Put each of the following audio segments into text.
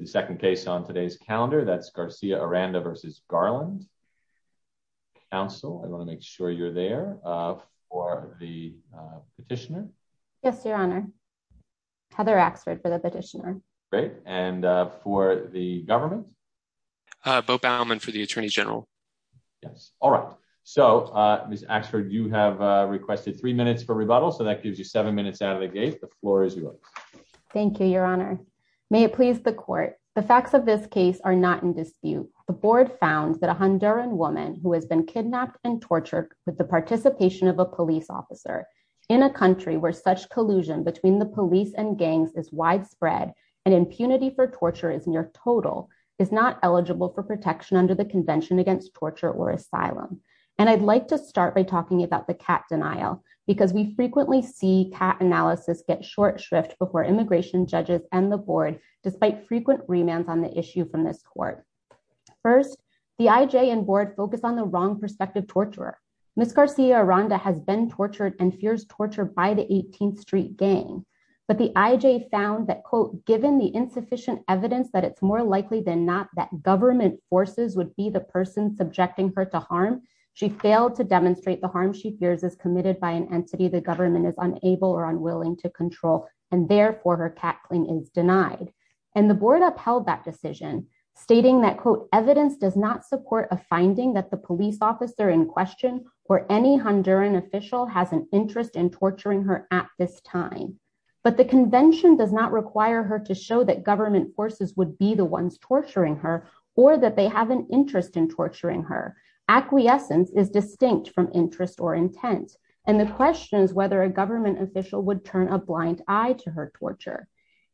to make sure you're there for the petitioner. Yes, Your Honor. Heather Axford for the petitioner. Great. And for the government? Bo Bauman for the Attorney General. Yes. All right. So, Ms. Axford, you have requested three minutes for rebuttal. So that gives you seven minutes out of the gate. The floor is yours. Thank you, Your Honor. May it please the court. The facts of this case are not in dispute. The board found that a Honduran woman who has been kidnapped and tortured with the participation of a police officer in a country where such collusion between the police and gangs is widespread, and impunity for torture is near total, is not eligible for protection under the Convention Against Torture or Asylum. And I'd like to start by talking about the cat denial, because we frequently see cat analysis get short shrift before immigration judges and the board, despite frequent remands on the issue from this court. First, the IJ and board focus on the wrong perspective torturer. Ms. Garcia-Aranda has been tortured and fears torture by the 18th Street Gang. But the IJ found that, quote, given the insufficient evidence that it's more likely than not that government forces would be the person subjecting her to harm, she failed to demonstrate the harm she fears is committed by an entity the government is unable or unwilling to control, and therefore her cat clean is denied. And the board upheld that decision, stating that, quote, evidence does not support a finding that the police officer in question or any Honduran official has an interest in torturing her at this time. But the convention does not require her to show that government forces would be the ones torturing her or that they have an interest in torturing her. Acquiescence is distinct from interest or intent. And the question is whether a government official would turn a blind eye to her torture.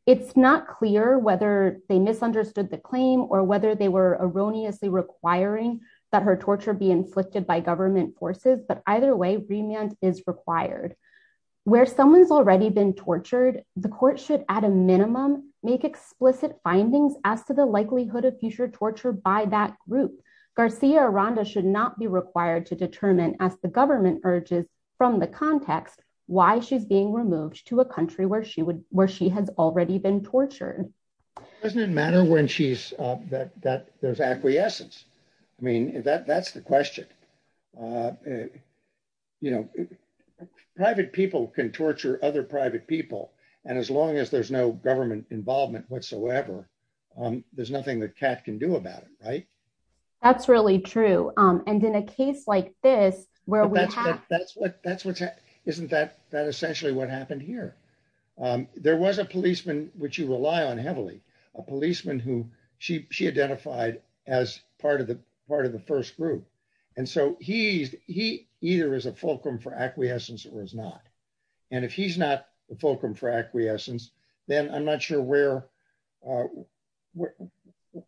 It's not clear whether they misunderstood the claim or whether they were erroneously requiring that her torture be inflicted by government forces. But either way, remand is required. Where someone's already been tortured, the court should, at a minimum, make explicit findings as to the likelihood of future torture by that group. Garcia Aranda should not be required to determine as the government urges from the context why she's being removed to a country where she would where she has already been tortured. Doesn't matter when she's that that there's acquiescence. I mean, that that's the question. You know, private people can torture other private people. And as long as there's no government involvement whatsoever, there's nothing that Kat can do about it. Right. That's really true. And in a case like this, where we have that's what that's what isn't that that essentially what happened here. There was a policeman, which you rely on heavily a policeman who she she identified as part of the part of the first group. And so he's he either is a fulcrum for acquiescence or is not. And if he's not a fulcrum for acquiescence, then I'm not sure where What,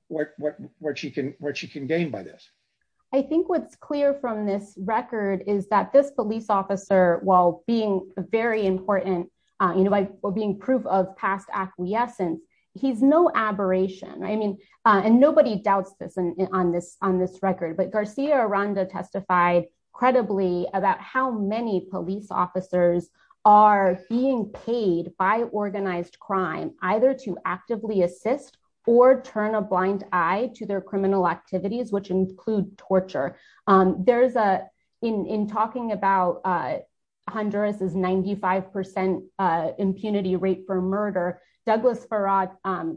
what, what, what she can what she can gain by this. I think what's clear from this record is that this police officer, while being very important, you know, by being proof of past acquiescence. He's no aberration. I mean, and nobody doubts this on this on this record, but Garcia Ronda testified credibly about how many police officers are being paid by organized crime, either to actively assist or turn a blind eye to their criminal activities, which include torture. There's a in talking about Honduras is 95% impunity rate for murder Douglas Farad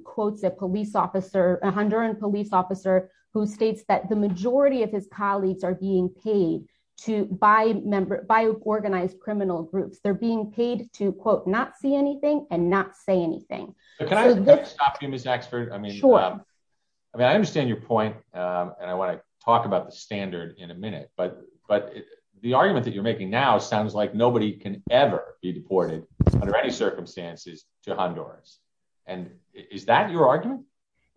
quotes a police officer, a Honduran police officer who states that the majority of his colleagues are being paid to buy member by organized criminal groups, they're being paid to quote not see anything and not say anything. I mean, I understand your point. And I want to talk about the standard in a minute but but the argument that you're making now sounds like nobody can ever be deported under any circumstances to Honduras. And is that your argument.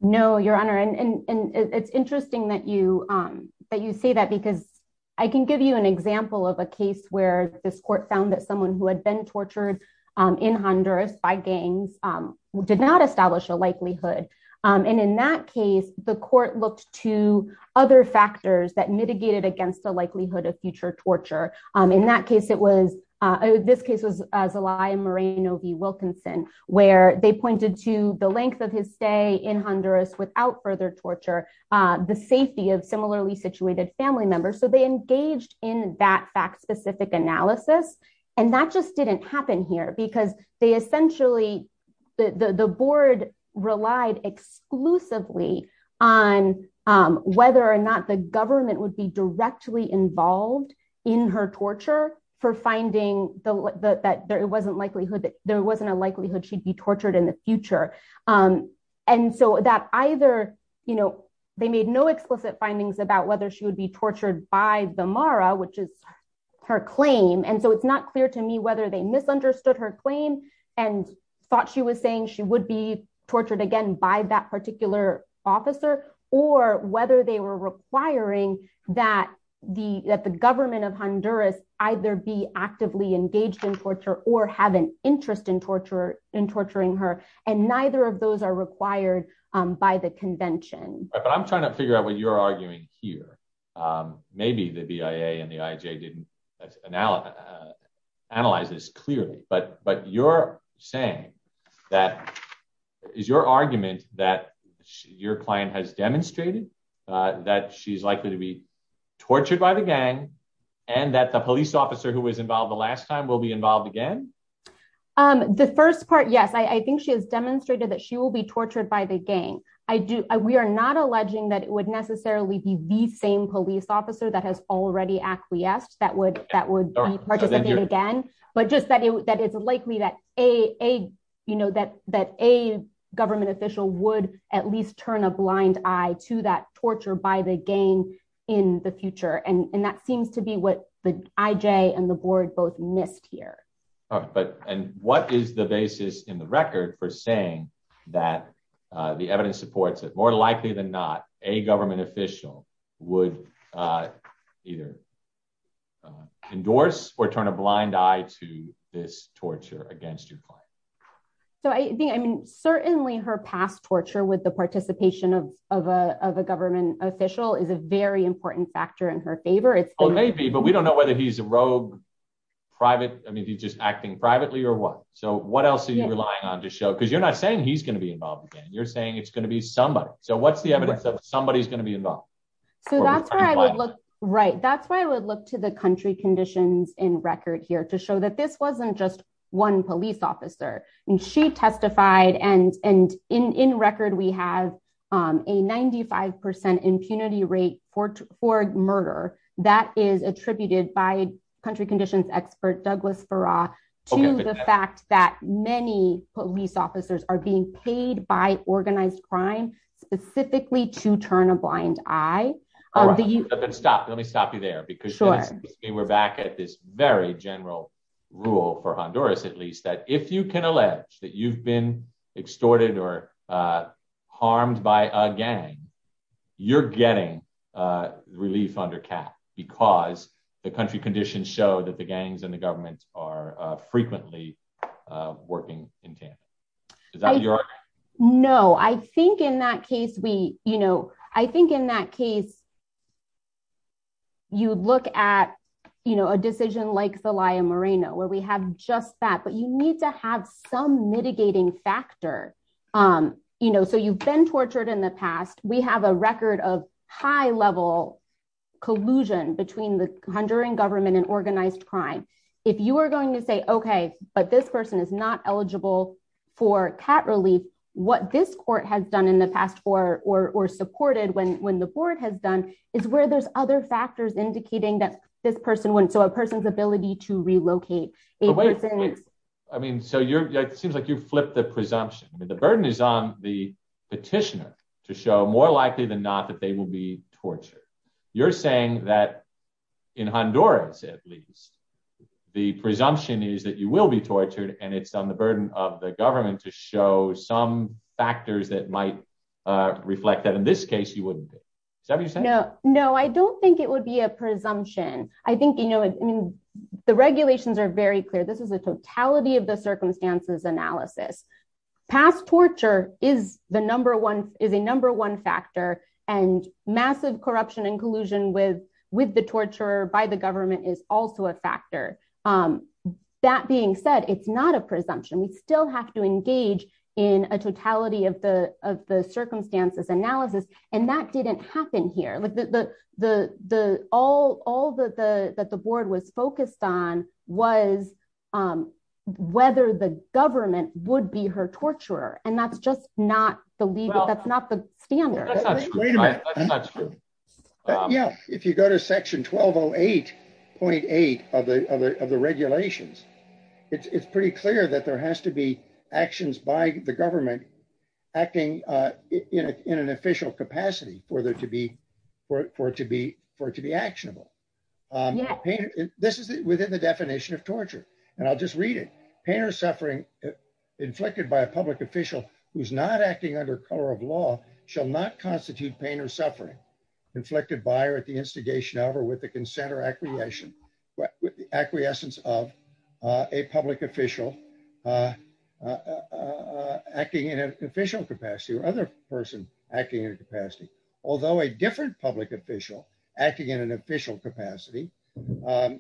No, Your Honor, and it's interesting that you that you say that because I can give you an example of a case where this court found that someone who had been tortured in Honduras by gangs did not establish a likelihood. And in that case, the court looked to other factors that mitigated against the likelihood of future torture. In that case, it was this case was as a lie and Marina V Wilkinson, where they pointed to the length of his stay in Honduras without further torture. The safety of similarly situated family members so they engaged in that fact specific analysis. And that just didn't happen here because they essentially the board relied exclusively on whether or not the government would be directly involved in her torture for finding that there wasn't likelihood that there wasn't a likelihood she'd be tortured in the future. And so that either, you know, they made no explicit findings about whether she would be tortured by the Mara which is her claim and so it's not clear to me whether they misunderstood her claim and thought she was saying she would be tortured again by that particular officer, or whether they were requiring that the that the government of Honduras, either be actively engaged in torture or have an interest in torture in torturing her, and neither of those are required by the convention, but I'm trying to figure out what you're arguing here. Maybe the BIA and the IJ didn't analyze this clearly but but you're saying that is your argument that your client has demonstrated that she's likely to be tortured by the gang, and that the police officer who was involved the last time will be involved again. The first part yes I think she has demonstrated that she will be tortured by the gang. I do, we are not alleging that it would necessarily be the same police officer that has already actually asked that would that would be again, but just that it would that would be a different argument but and what is the basis in the record for saying that the evidence supports it more likely than not, a government official would either endorse or turn a blind eye to this torture against your client. So I think I mean certainly her past torture with the participation of a government official is a very important factor in her favor it's maybe but we don't know whether he's a rogue private, I mean he's just acting privately or what. So what else are you relying on to show because you're not saying he's going to be involved again you're saying it's going to be somebody. So what's the evidence that somebody is going to be involved. So that's where I would look right that's where I would look to the country conditions in record here to show that this wasn't just one police officer, and she testified and and in record we have a 95% impunity rate for for murder that is attributed by country conditions expert Douglas for to the fact that many police officers are being paid by organized crime, specifically to turn a blind eye. Stop, let me stop you there because we're back at this very general rule for Honduras, at least that if you can allege that you've been extorted or harmed by a gang. You're getting relief under cap, because the country conditions show that the gangs and the government are frequently working. No, I think in that case we, you know, I think in that case, you look at, you know, a decision like the lion Moreno where we have just that but you need to have some mitigating factor. You know, so you've been tortured in the past, we have a record of high level collusion between the country and government and organized crime. If you are going to say okay, but this person is not eligible for cat relief, what this court has done in the past or supported when when the board has done is where there's other factors indicating that this person wouldn't so a person's ability to relocate. I mean so you're seems like you flip the presumption that the burden is on the petitioner to show more likely than not that they will be tortured. You're saying that in Honduras, at least the presumption is that you will be tortured and it's on the burden of the government to show some factors that might reflect that in this case you wouldn't. No, no, I don't think it would be a presumption, I think, you know, the regulations are very clear this is a totality of the circumstances analysis past torture is the number one is a number one factor and massive corruption and collusion with with the torture by the government is also a factor. That being said, it's not a presumption we still have to engage in a totality of the, of the circumstances analysis, and that didn't happen here like the, the, the, all, all the, the, that the board was focused on was whether the government would be her torture, and that's just not believe that's not the standard. Wait a minute. Yeah, if you go to section 1208.8 of the of the regulations. It's pretty clear that there has to be actions by the government acting in an official capacity for there to be for it to be for it to be actionable. Yeah, this is within the definition of torture, and I'll just read it, pain or suffering inflicted by a public official who's not acting under color of law shall not constitute pain or suffering inflicted by or at the instigation of or with the consent or capacity. I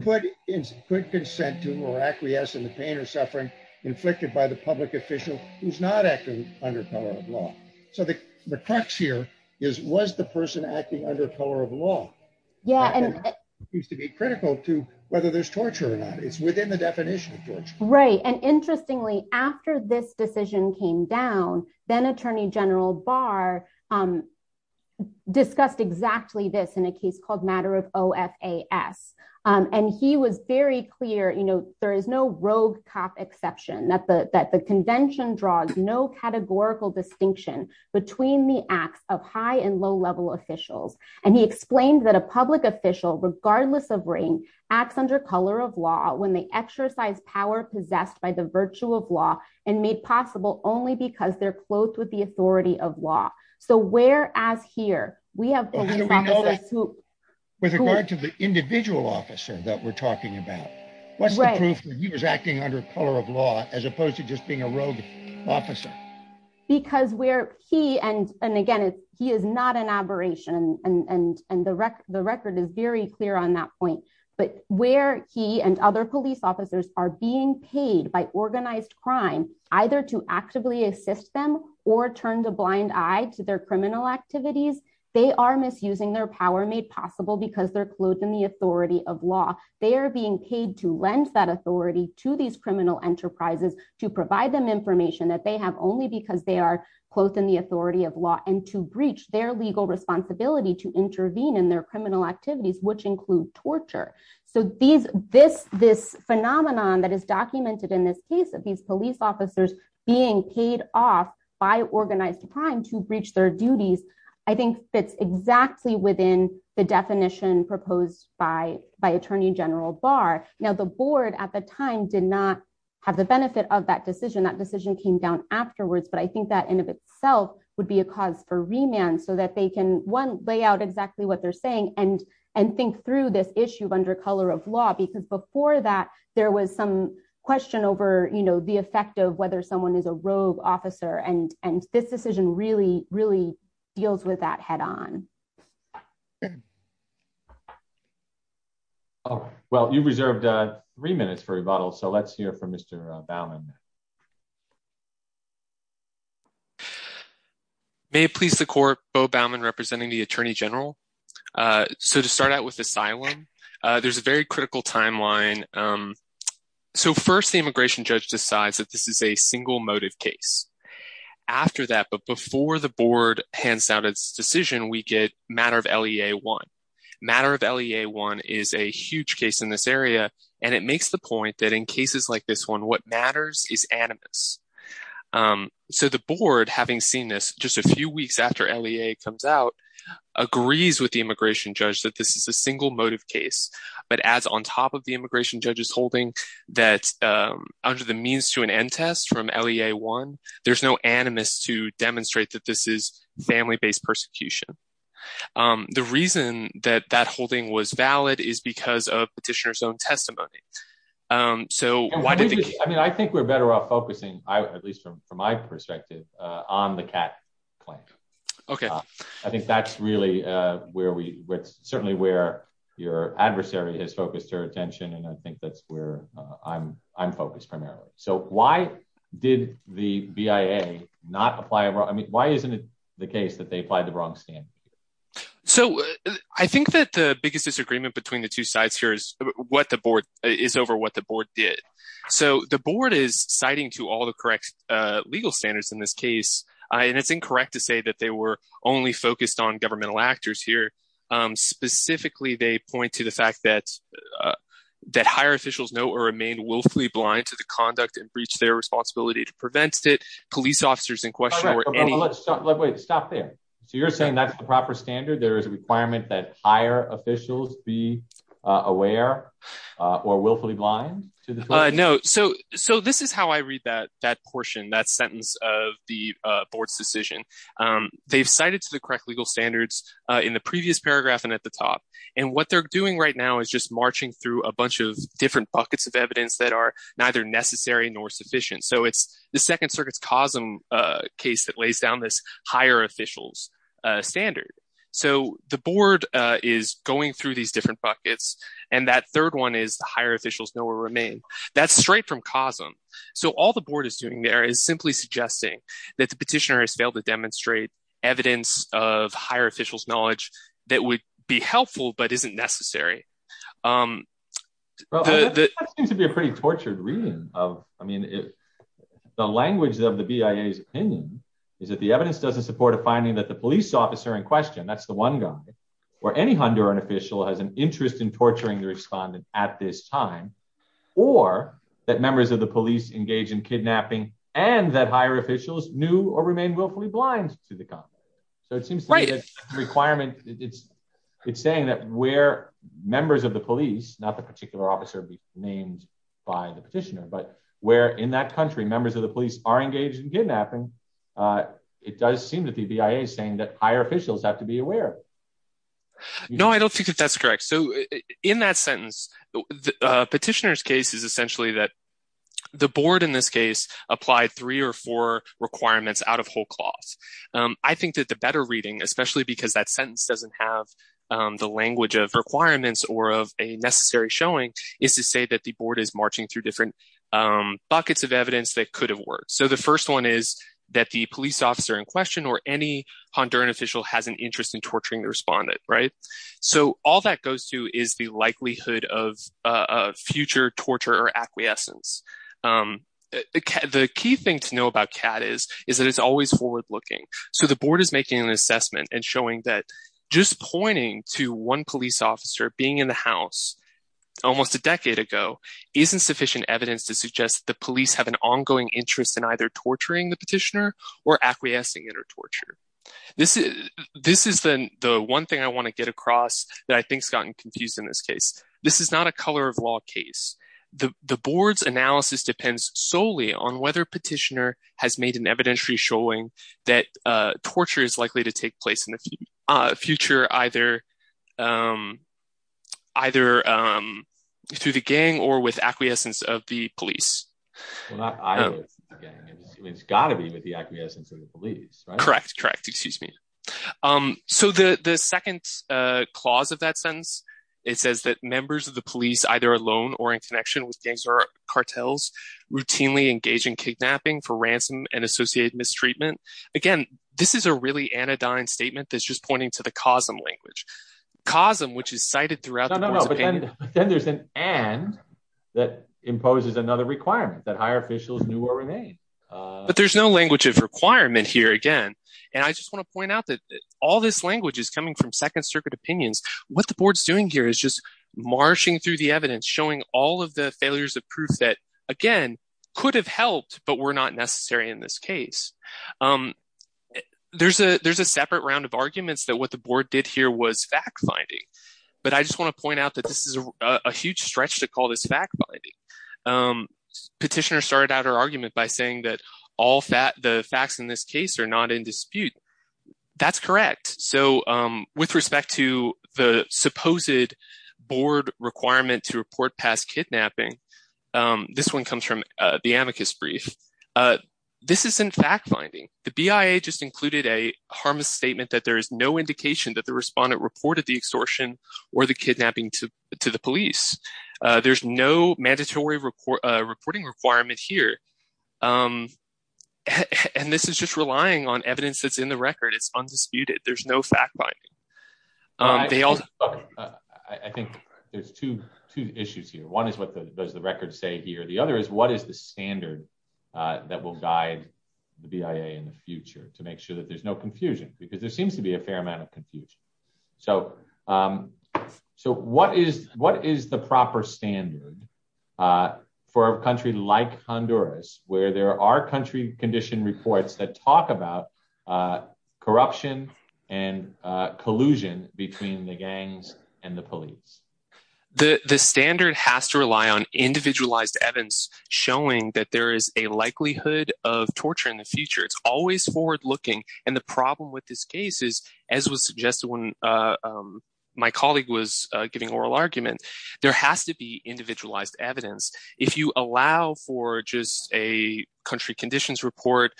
put in quick consent to or acquiesce in the pain or suffering inflicted by the public official who's not acting under color of law. So the, the crux here is was the person acting under color of law. Yeah, and it used to be critical to whether there's torture or not it's within the definition of torture. Right. And interestingly, after this decision came down, then Attorney General bar discussed exactly this in a case called matter of FAS. And he was very clear you know there is no rogue cop exception that the that the convention draws no categorical distinction between the acts of high and low level officials, and he explained that a public official regardless of ring acts under color of law when they exercise power possessed by the virtue of law and made possible only because they're clothed with the authority of law. So where as here, we have. With regard to the individual officer that we're talking about. What's the proof that he was acting under color of law, as opposed to just being a rogue officer. Because we're he and and again he is not an aberration and and and the record the record is very clear on that point, but where he and other police officers are being paid by organized crime, either to actively assist them or turned a blind eye to their criminal activities, they are misusing their power made possible because they're clothed in the authority of law, they are being paid to lend that authority to these criminal enterprises to provide them information that they have only because they are clothed in I think fits exactly within the definition proposed by by Attorney General bar. Now the board at the time did not have the benefit of that decision that decision came down afterwards but I think that in of itself would be a cause for remand so that they can one lay out exactly what they're saying and and think through this issue of under color of law because before that there was some question over you know the effect of whether someone is a rogue officer and and this decision really really deals with that head on. Oh, well you reserved three minutes for rebuttal so let's hear from Mr. Bowman. May it please the court Bo Bowman representing the Attorney General. So to start out with asylum. There's a very critical timeline. So first the immigration judge decides that this is a single motive case. After that, but before the board hands out its decision we get matter of LEA one matter of LEA one is a huge case in this area, and it makes the point that in cases like this one what matters is animus. So the board having seen this just a few weeks after LEA comes out agrees with the immigration judge that this is a single motive case, but as on top of the immigration judges holding that under the means to an end test from LEA one, there's no animus to demonstrate that this is family based persecution. The reason that that holding was valid is because of petitioners own testimony. So, why did I mean I think we're better off focusing, at least from from my perspective on the cat plank. Okay, I think that's really where we certainly where your adversary has focused her attention and I think that's where I'm, I'm focused primarily. So why did the BIA not apply. I mean, why isn't it the case that they applied the wrong stand. So, I think that the biggest disagreement between the two sides here is what the board is over what the board did. So the board is citing to all the correct legal standards in this case, and it's incorrect to say that they were only focused on governmental There is a requirement that higher officials be aware, or willfully blind to the. No. So, so this is how I read that that portion that sentence of the board's decision. They've cited to the correct legal standards in the previous paragraph and at the top. And what they're doing right now is just marching through a bunch of different buckets of evidence that are neither necessary nor sufficient so it's the Second Circuit's cause them. So all the board is doing there is simply suggesting that the petitioner has failed to demonstrate evidence of higher officials knowledge that would be helpful, but isn't necessary. To be a pretty tortured reading of, I mean, if the language of the BIA is opinion. Is that the evidence doesn't support a finding that the police officer in question that's the one guy, or any Honduran official has an interest in torturing the respondent at this time, or that members of the police engage in kidnapping, and that higher officials knew or remain willfully blind to the gun. So it seems like requirement, it's, it's saying that we're members of the police, not the particular officer be named by the petitioner but where in that country members of the police are engaged in kidnapping. It does seem that the BIA saying that higher officials have to be aware. No, I don't think that that's correct. So, in that sentence, the petitioners case is essentially that the board in this case applied three or four requirements out of whole cloth. I think that the better reading, especially because that sentence doesn't have the language of requirements or of a necessary showing is to say that the board is marching through different buckets of evidence that could have worked. So the first one is that the police officer in question or any Honduran official has an interest in torturing the respondent. Right. So, all that goes to is the likelihood of future torture or acquiescence. The key thing to know about CAD is, is that it's always forward looking. So the board is making an assessment and showing that just pointing to one police officer being in the house. Almost a decade ago, isn't sufficient evidence to suggest the police have an ongoing interest in either torturing the petitioner or acquiescing or torture. This is, this is the one thing I want to get across that I think Scott and confused in this case. This is not a color of law case, the board's analysis depends solely on whether petitioner has made an evidentiary showing that torture is likely to take place in the future, either. Either through the gang or with acquiescence of the police. It's got to be with the acquiescence of the police. Correct. Correct. Excuse me. So the second clause of that sentence. It says that members of the police either alone or in connection with gangs or cartels routinely engage in kidnapping for ransom and associated mistreatment. Again, this is a really anodyne statement that's just pointing to the COSM language. COSM, which is cited throughout. Then there's an and that imposes another requirement that higher officials knew or remain. But there's no language of requirement here again. And I just want to point out that all this language is coming from Second Circuit opinions, what the board's doing here is just marching through the evidence showing all of the failures of proof that, again, could have helped, but were not necessary in this case. There's a there's a separate round of arguments that what the board did here was fact finding. But I just want to point out that this is a huge stretch to call this fact. Petitioner started out her argument by saying that all that the facts in this case are not in dispute. That's correct. So with respect to the supposed board requirement to report past kidnapping. This one comes from the amicus brief. This is in fact, finding the BIA just included a harmless statement that there is no indication that the respondent reported the extortion or the kidnapping to the police. There's no mandatory report reporting requirement here. And this is just relying on evidence that's in the record. It's undisputed. There's no fact. I think there's two issues here. One is what does the record say here. The other is what is the standard that will guide the BIA in the future to make sure that there's no confusion because there seems to be a fair amount of confusion. So, so what is what is the proper standard. For a country like Honduras, where there are country condition reports that talk about Corruption and collusion between the gangs and the police. The standard has to rely on individualized evidence showing that there is a likelihood of torture in the future. It's always forward looking. And the problem with this case is, as was suggested when My colleague was giving oral argument, there has to be individualized evidence. If you allow for just a country conditions report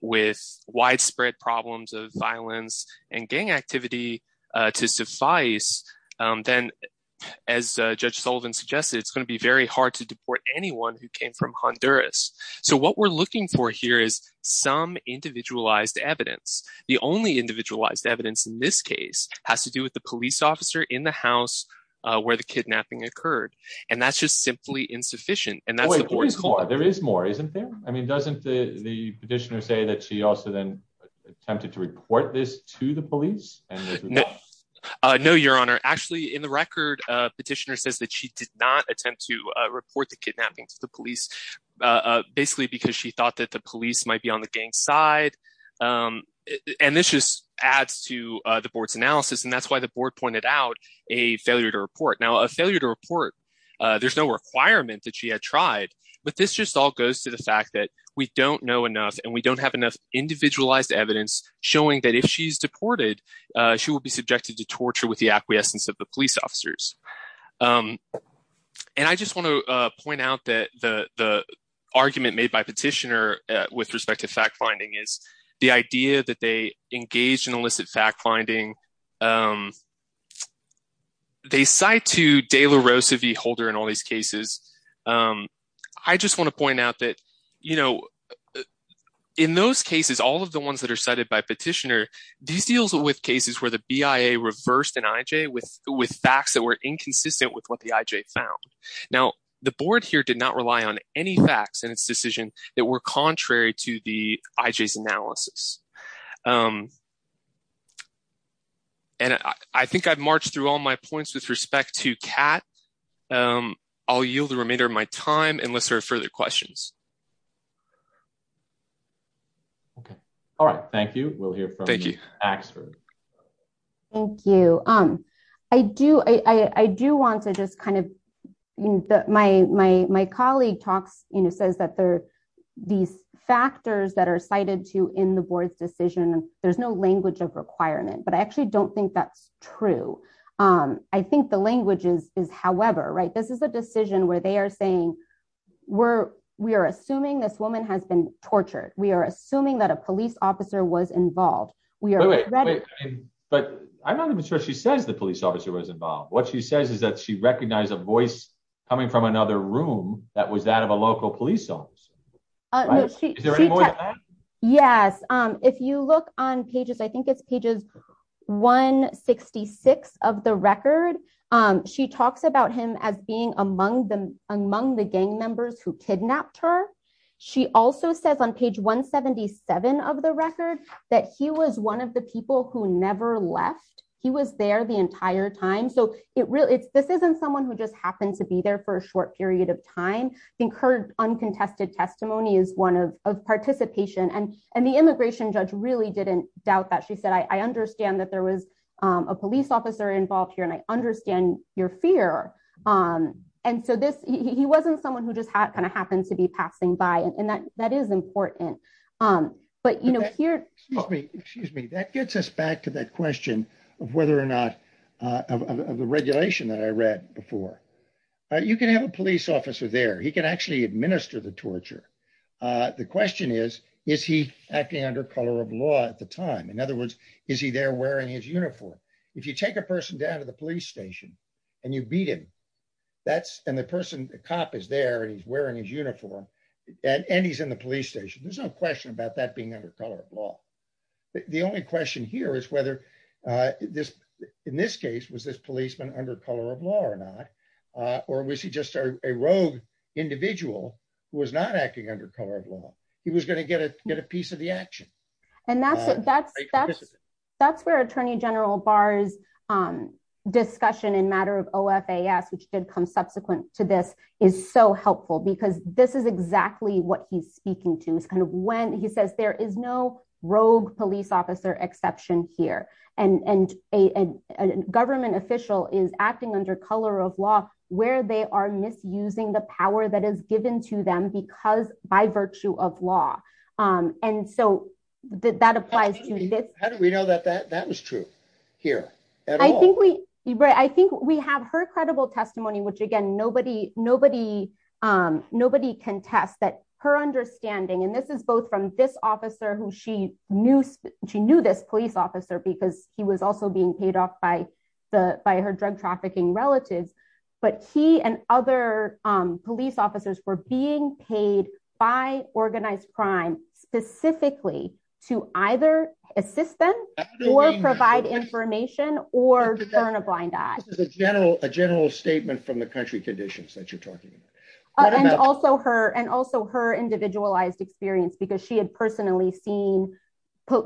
With widespread problems of violence and gang activity to suffice, then As Judge Sullivan suggested, it's going to be very hard to deport anyone who came from Honduras. So what we're looking for here is some individualized evidence. The only individualized evidence in this case has to do with the police officer in the house where the kidnapping occurred. And that's just simply insufficient and that's There is more isn't there. I mean, doesn't the petitioner say that she also then attempted to report this to the police and No, your honor. Actually, in the record petitioner says that she did not attempt to report the kidnapping to the police, basically because she thought that the police might be on the gang side. And this just adds to the board's analysis. And that's why the board pointed out a failure to report now a failure to report. There's no requirement that she had tried, but this just all goes to the fact that we don't know enough and we don't have enough individualized evidence showing that if she's deported She will be subjected to torture with the acquiescence of the police officers. And I just want to point out that the argument made by petitioner with respect to fact finding is the idea that they engage in illicit fact finding They cite to de la Rosa V. Holder and all these cases. I just want to point out that, you know, In those cases, all of the ones that are cited by petitioner these deals with cases where the BIA reversed and IJ with with facts that were inconsistent with what the IJ found now the board here did not rely on any facts and its decision that were contrary to the IJ analysis. And I think I've marched through all my points with respect to cat. I'll yield the remainder of my time unless there are further questions. Okay. All right. Thank you. We'll hear from you. Thank you. Um, I do, I do want to just kind of My, my, my colleague talks, you know, says that there are these factors that are cited to in the board's decision. There's no language of requirement, but I actually don't think that's true. I think the language is, is, however, right. This is a decision where they are saying we're we are assuming this woman has been tortured. We are assuming that a police officer was involved, we are But I'm not even sure she says the police officer was involved. What she says is that she recognized a voice coming from another room that was that of a local police officer. Yes. Um, if you look on pages. I think it's pages 166 of the record. Um, she talks about him as being among them among the gang members who kidnapped her She also says on page 177 of the record that he was one of the people who never left. He was there the entire time. So it really it's this isn't someone who just happened to be there for a short period of time incurred uncontested testimony is one of the things that she talked about. She said, I understand that there was a police officer involved here and I understand your fear. Um, and so this, he wasn't someone who just had kind of happened to be passing by and that that is important. But, you know, here. Excuse me, that gets us back to that question of whether or not of the regulation that I read before. You can have a police officer there he can actually administer the torture. The question is, is he acting under color of law at the time. In other words, is he there wearing his uniform. If you take a person down to the police station, and you beat him. That's, and the person cop is there and he's wearing his uniform, and he's in the police station there's no question about that being under color of law. The only question here is whether this. In this case was this policeman under color of law or not, or was he just a rogue individual who was not acting under color of law, he was going to get a get a piece of the action. And that's, that's, that's, that's where Attorney General bars discussion in matter of of as which did come subsequent to this is so helpful because this is exactly what he's speaking to is kind of when he says there is no rogue police officer exception here, and a government official is acting under color of law, where they are misusing the power that is given to them because by virtue of law. And so that applies to this, how do we know that that that was true here. I think we, I think we have her credible testimony which again nobody, nobody, nobody can test that her understanding and this is both from this officer who she knew she knew this police officer because he was also being paid off by the by her drug trafficking relatives, but he and other police officers were being paid by organized crime specifically to either assist them or provide information or turn a blind eye to the general general statement from the country conditions that you're talking about. And also her and also her individualized experience because she had personally seen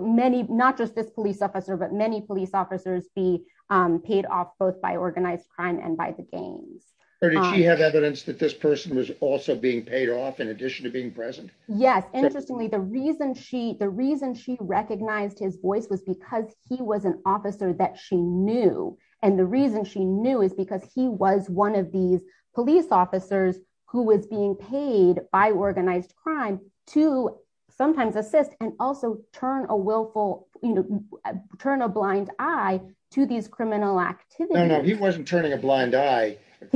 many, not just this police officer but many police officers be paid off both by organized crime and by the games, or do you have evidence that this person was also being paid off in addition to being present. Yes. Interestingly, the reason she the reason she recognized his voice was because he was an officer that she knew, and the reason she knew is because he was one of these police officers who was being paid by organized crime to sometimes assist and also turn a willful, you know, turn a blind eye to these criminal activity. No, no, he wasn't turning a blind eye. And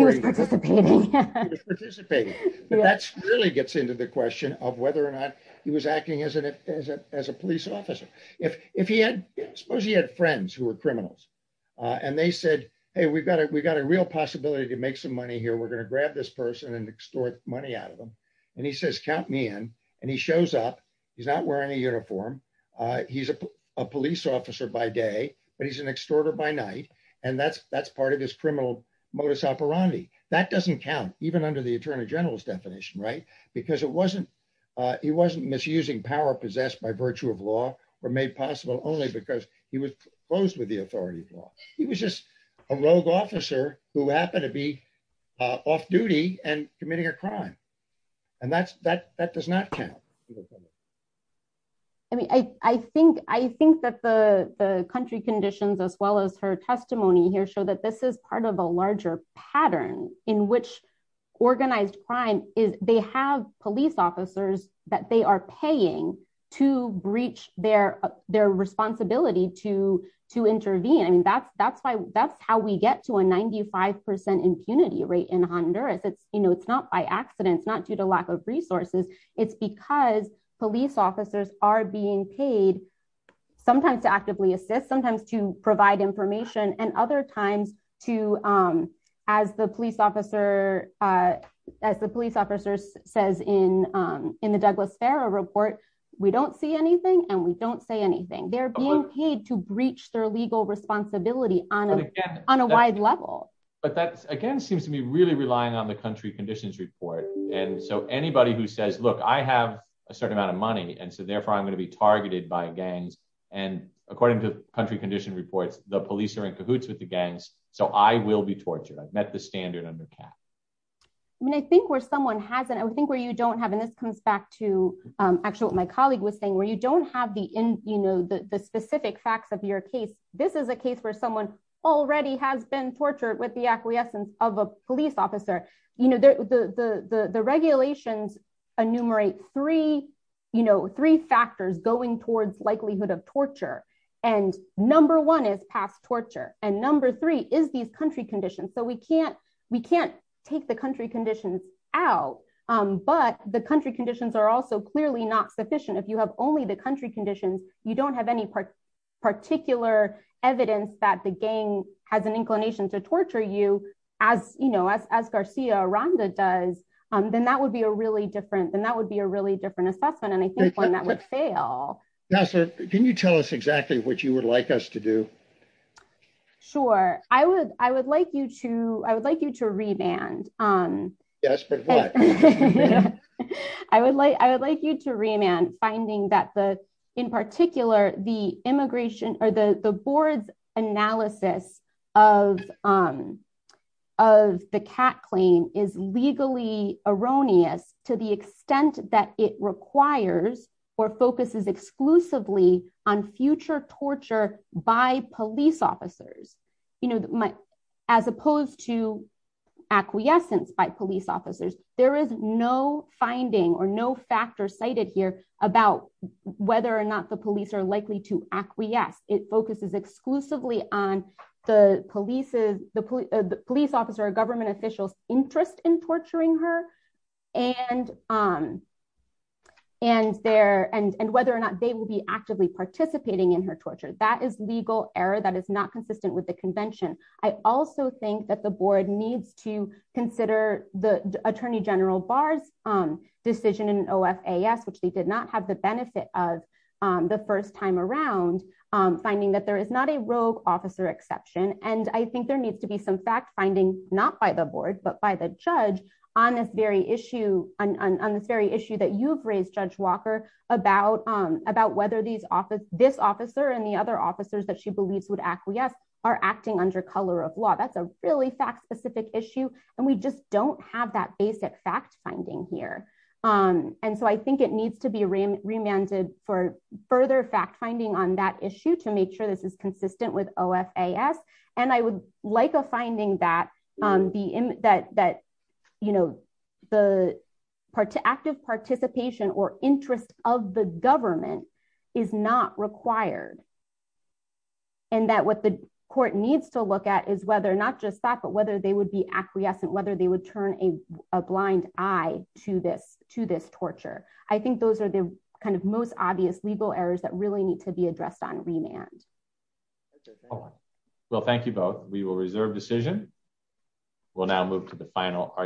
they said, hey, we've got it we got a real possibility to make some money here we're going to grab this person and extort money out of them. And he says count me in, and he shows up. He's not wearing a uniform. He's a police officer by day, but he's an extorter by night. And that's, that's part of this criminal modus operandi, that doesn't count, even under the Attorney General's definition right because it wasn't. He wasn't misusing power possessed by virtue of law were made possible only because he was close with the authority of law. He was just a rogue officer who happened to be off duty and committing a crime. And that's that that does not count. I mean, I think, I think that the country conditions as well as her testimony here show that this is part of a larger pattern in which organized crime is they have police officers that they are paying to breach their, their responsibility to to intervene I mean that's that's why that's how we get to a 95% impunity rate in Honduras it's, you know, it's not by accident it's not due to lack of resources. It's because police officers are being paid, sometimes to actively assist sometimes to provide information and other times to, as the police officer, as the police officers says in in the Douglas Farah report, we don't see anything and we don't say anything they're being paid to breach their legal responsibility on on a wide level, but that's again seems to be really relying on the country conditions report. And so anybody who says look I have a certain amount of money and so therefore I'm going to be targeted by gangs and according to country condition reports, the police are in cahoots with the gangs, so I will be tortured I've met the standard under cap. I mean I think where someone hasn't I think where you don't have and this comes back to actual my colleague was saying where you don't have the in, you know, the specific facts of your case, this is a case where someone already has been tortured with the acquiescence of a police officer, you know, the regulations enumerate three, you know, three factors going towards likelihood of torture. And number one is past torture, and number three is these country conditions so we can't, we can't take the country conditions out, but the country conditions are also clearly not sufficient if you have only the country conditions, you don't have any particular evidence that the gang has an inclination to torture you as you know as as Garcia Ronda does, then that would be a really different than that would be a really different assessment and I think that would fail. Can you tell us exactly what you would like us to do. Sure, I would, I would like you to, I would like you to remand on. I would like I would like you to remand finding that the, in particular, the immigration or the the board's analysis of of the cat clean is legally erroneous, to the extent that it requires or focuses exclusively on future torture by police officers, you know, my, as opposed to acquiescence by police officers, there is no finding or no factor cited here about whether or not the police are likely to acquiesce, it focuses exclusively on the police is the police officer government officials interest in torturing her and, um, and their end and whether or not they will be actively participating in her torture that is legal error that is not consistent with the convention. I also think that the board needs to consider the Attorney General bars on decision and of as which they did not have the benefit of the first time around, finding that there is not a rogue officer exception, and I think there needs to be some fact finding, not by the board but by the judge on this very issue on this very issue that you've raised Judge Walker, about, about whether these office, this officer and the other officers that she believes would acquiesce are acting under color of law that's a really fact specific issue, and we just don't have that basic fact finding here. And so I think it needs to be remanded for further fact finding on that issue to make sure this is consistent with oh FAS, and I would like a finding that the that that, you know, the part of active participation or interest of the government is not required. And that what the court needs to look at is whether not just that but whether they would be acquiescent whether they would turn a blind eye to this to this torture. I think those are the kind of most obvious legal errors that really need to be addressed on remand. Well thank you both, we will reserve decision. We'll now move to the final argument.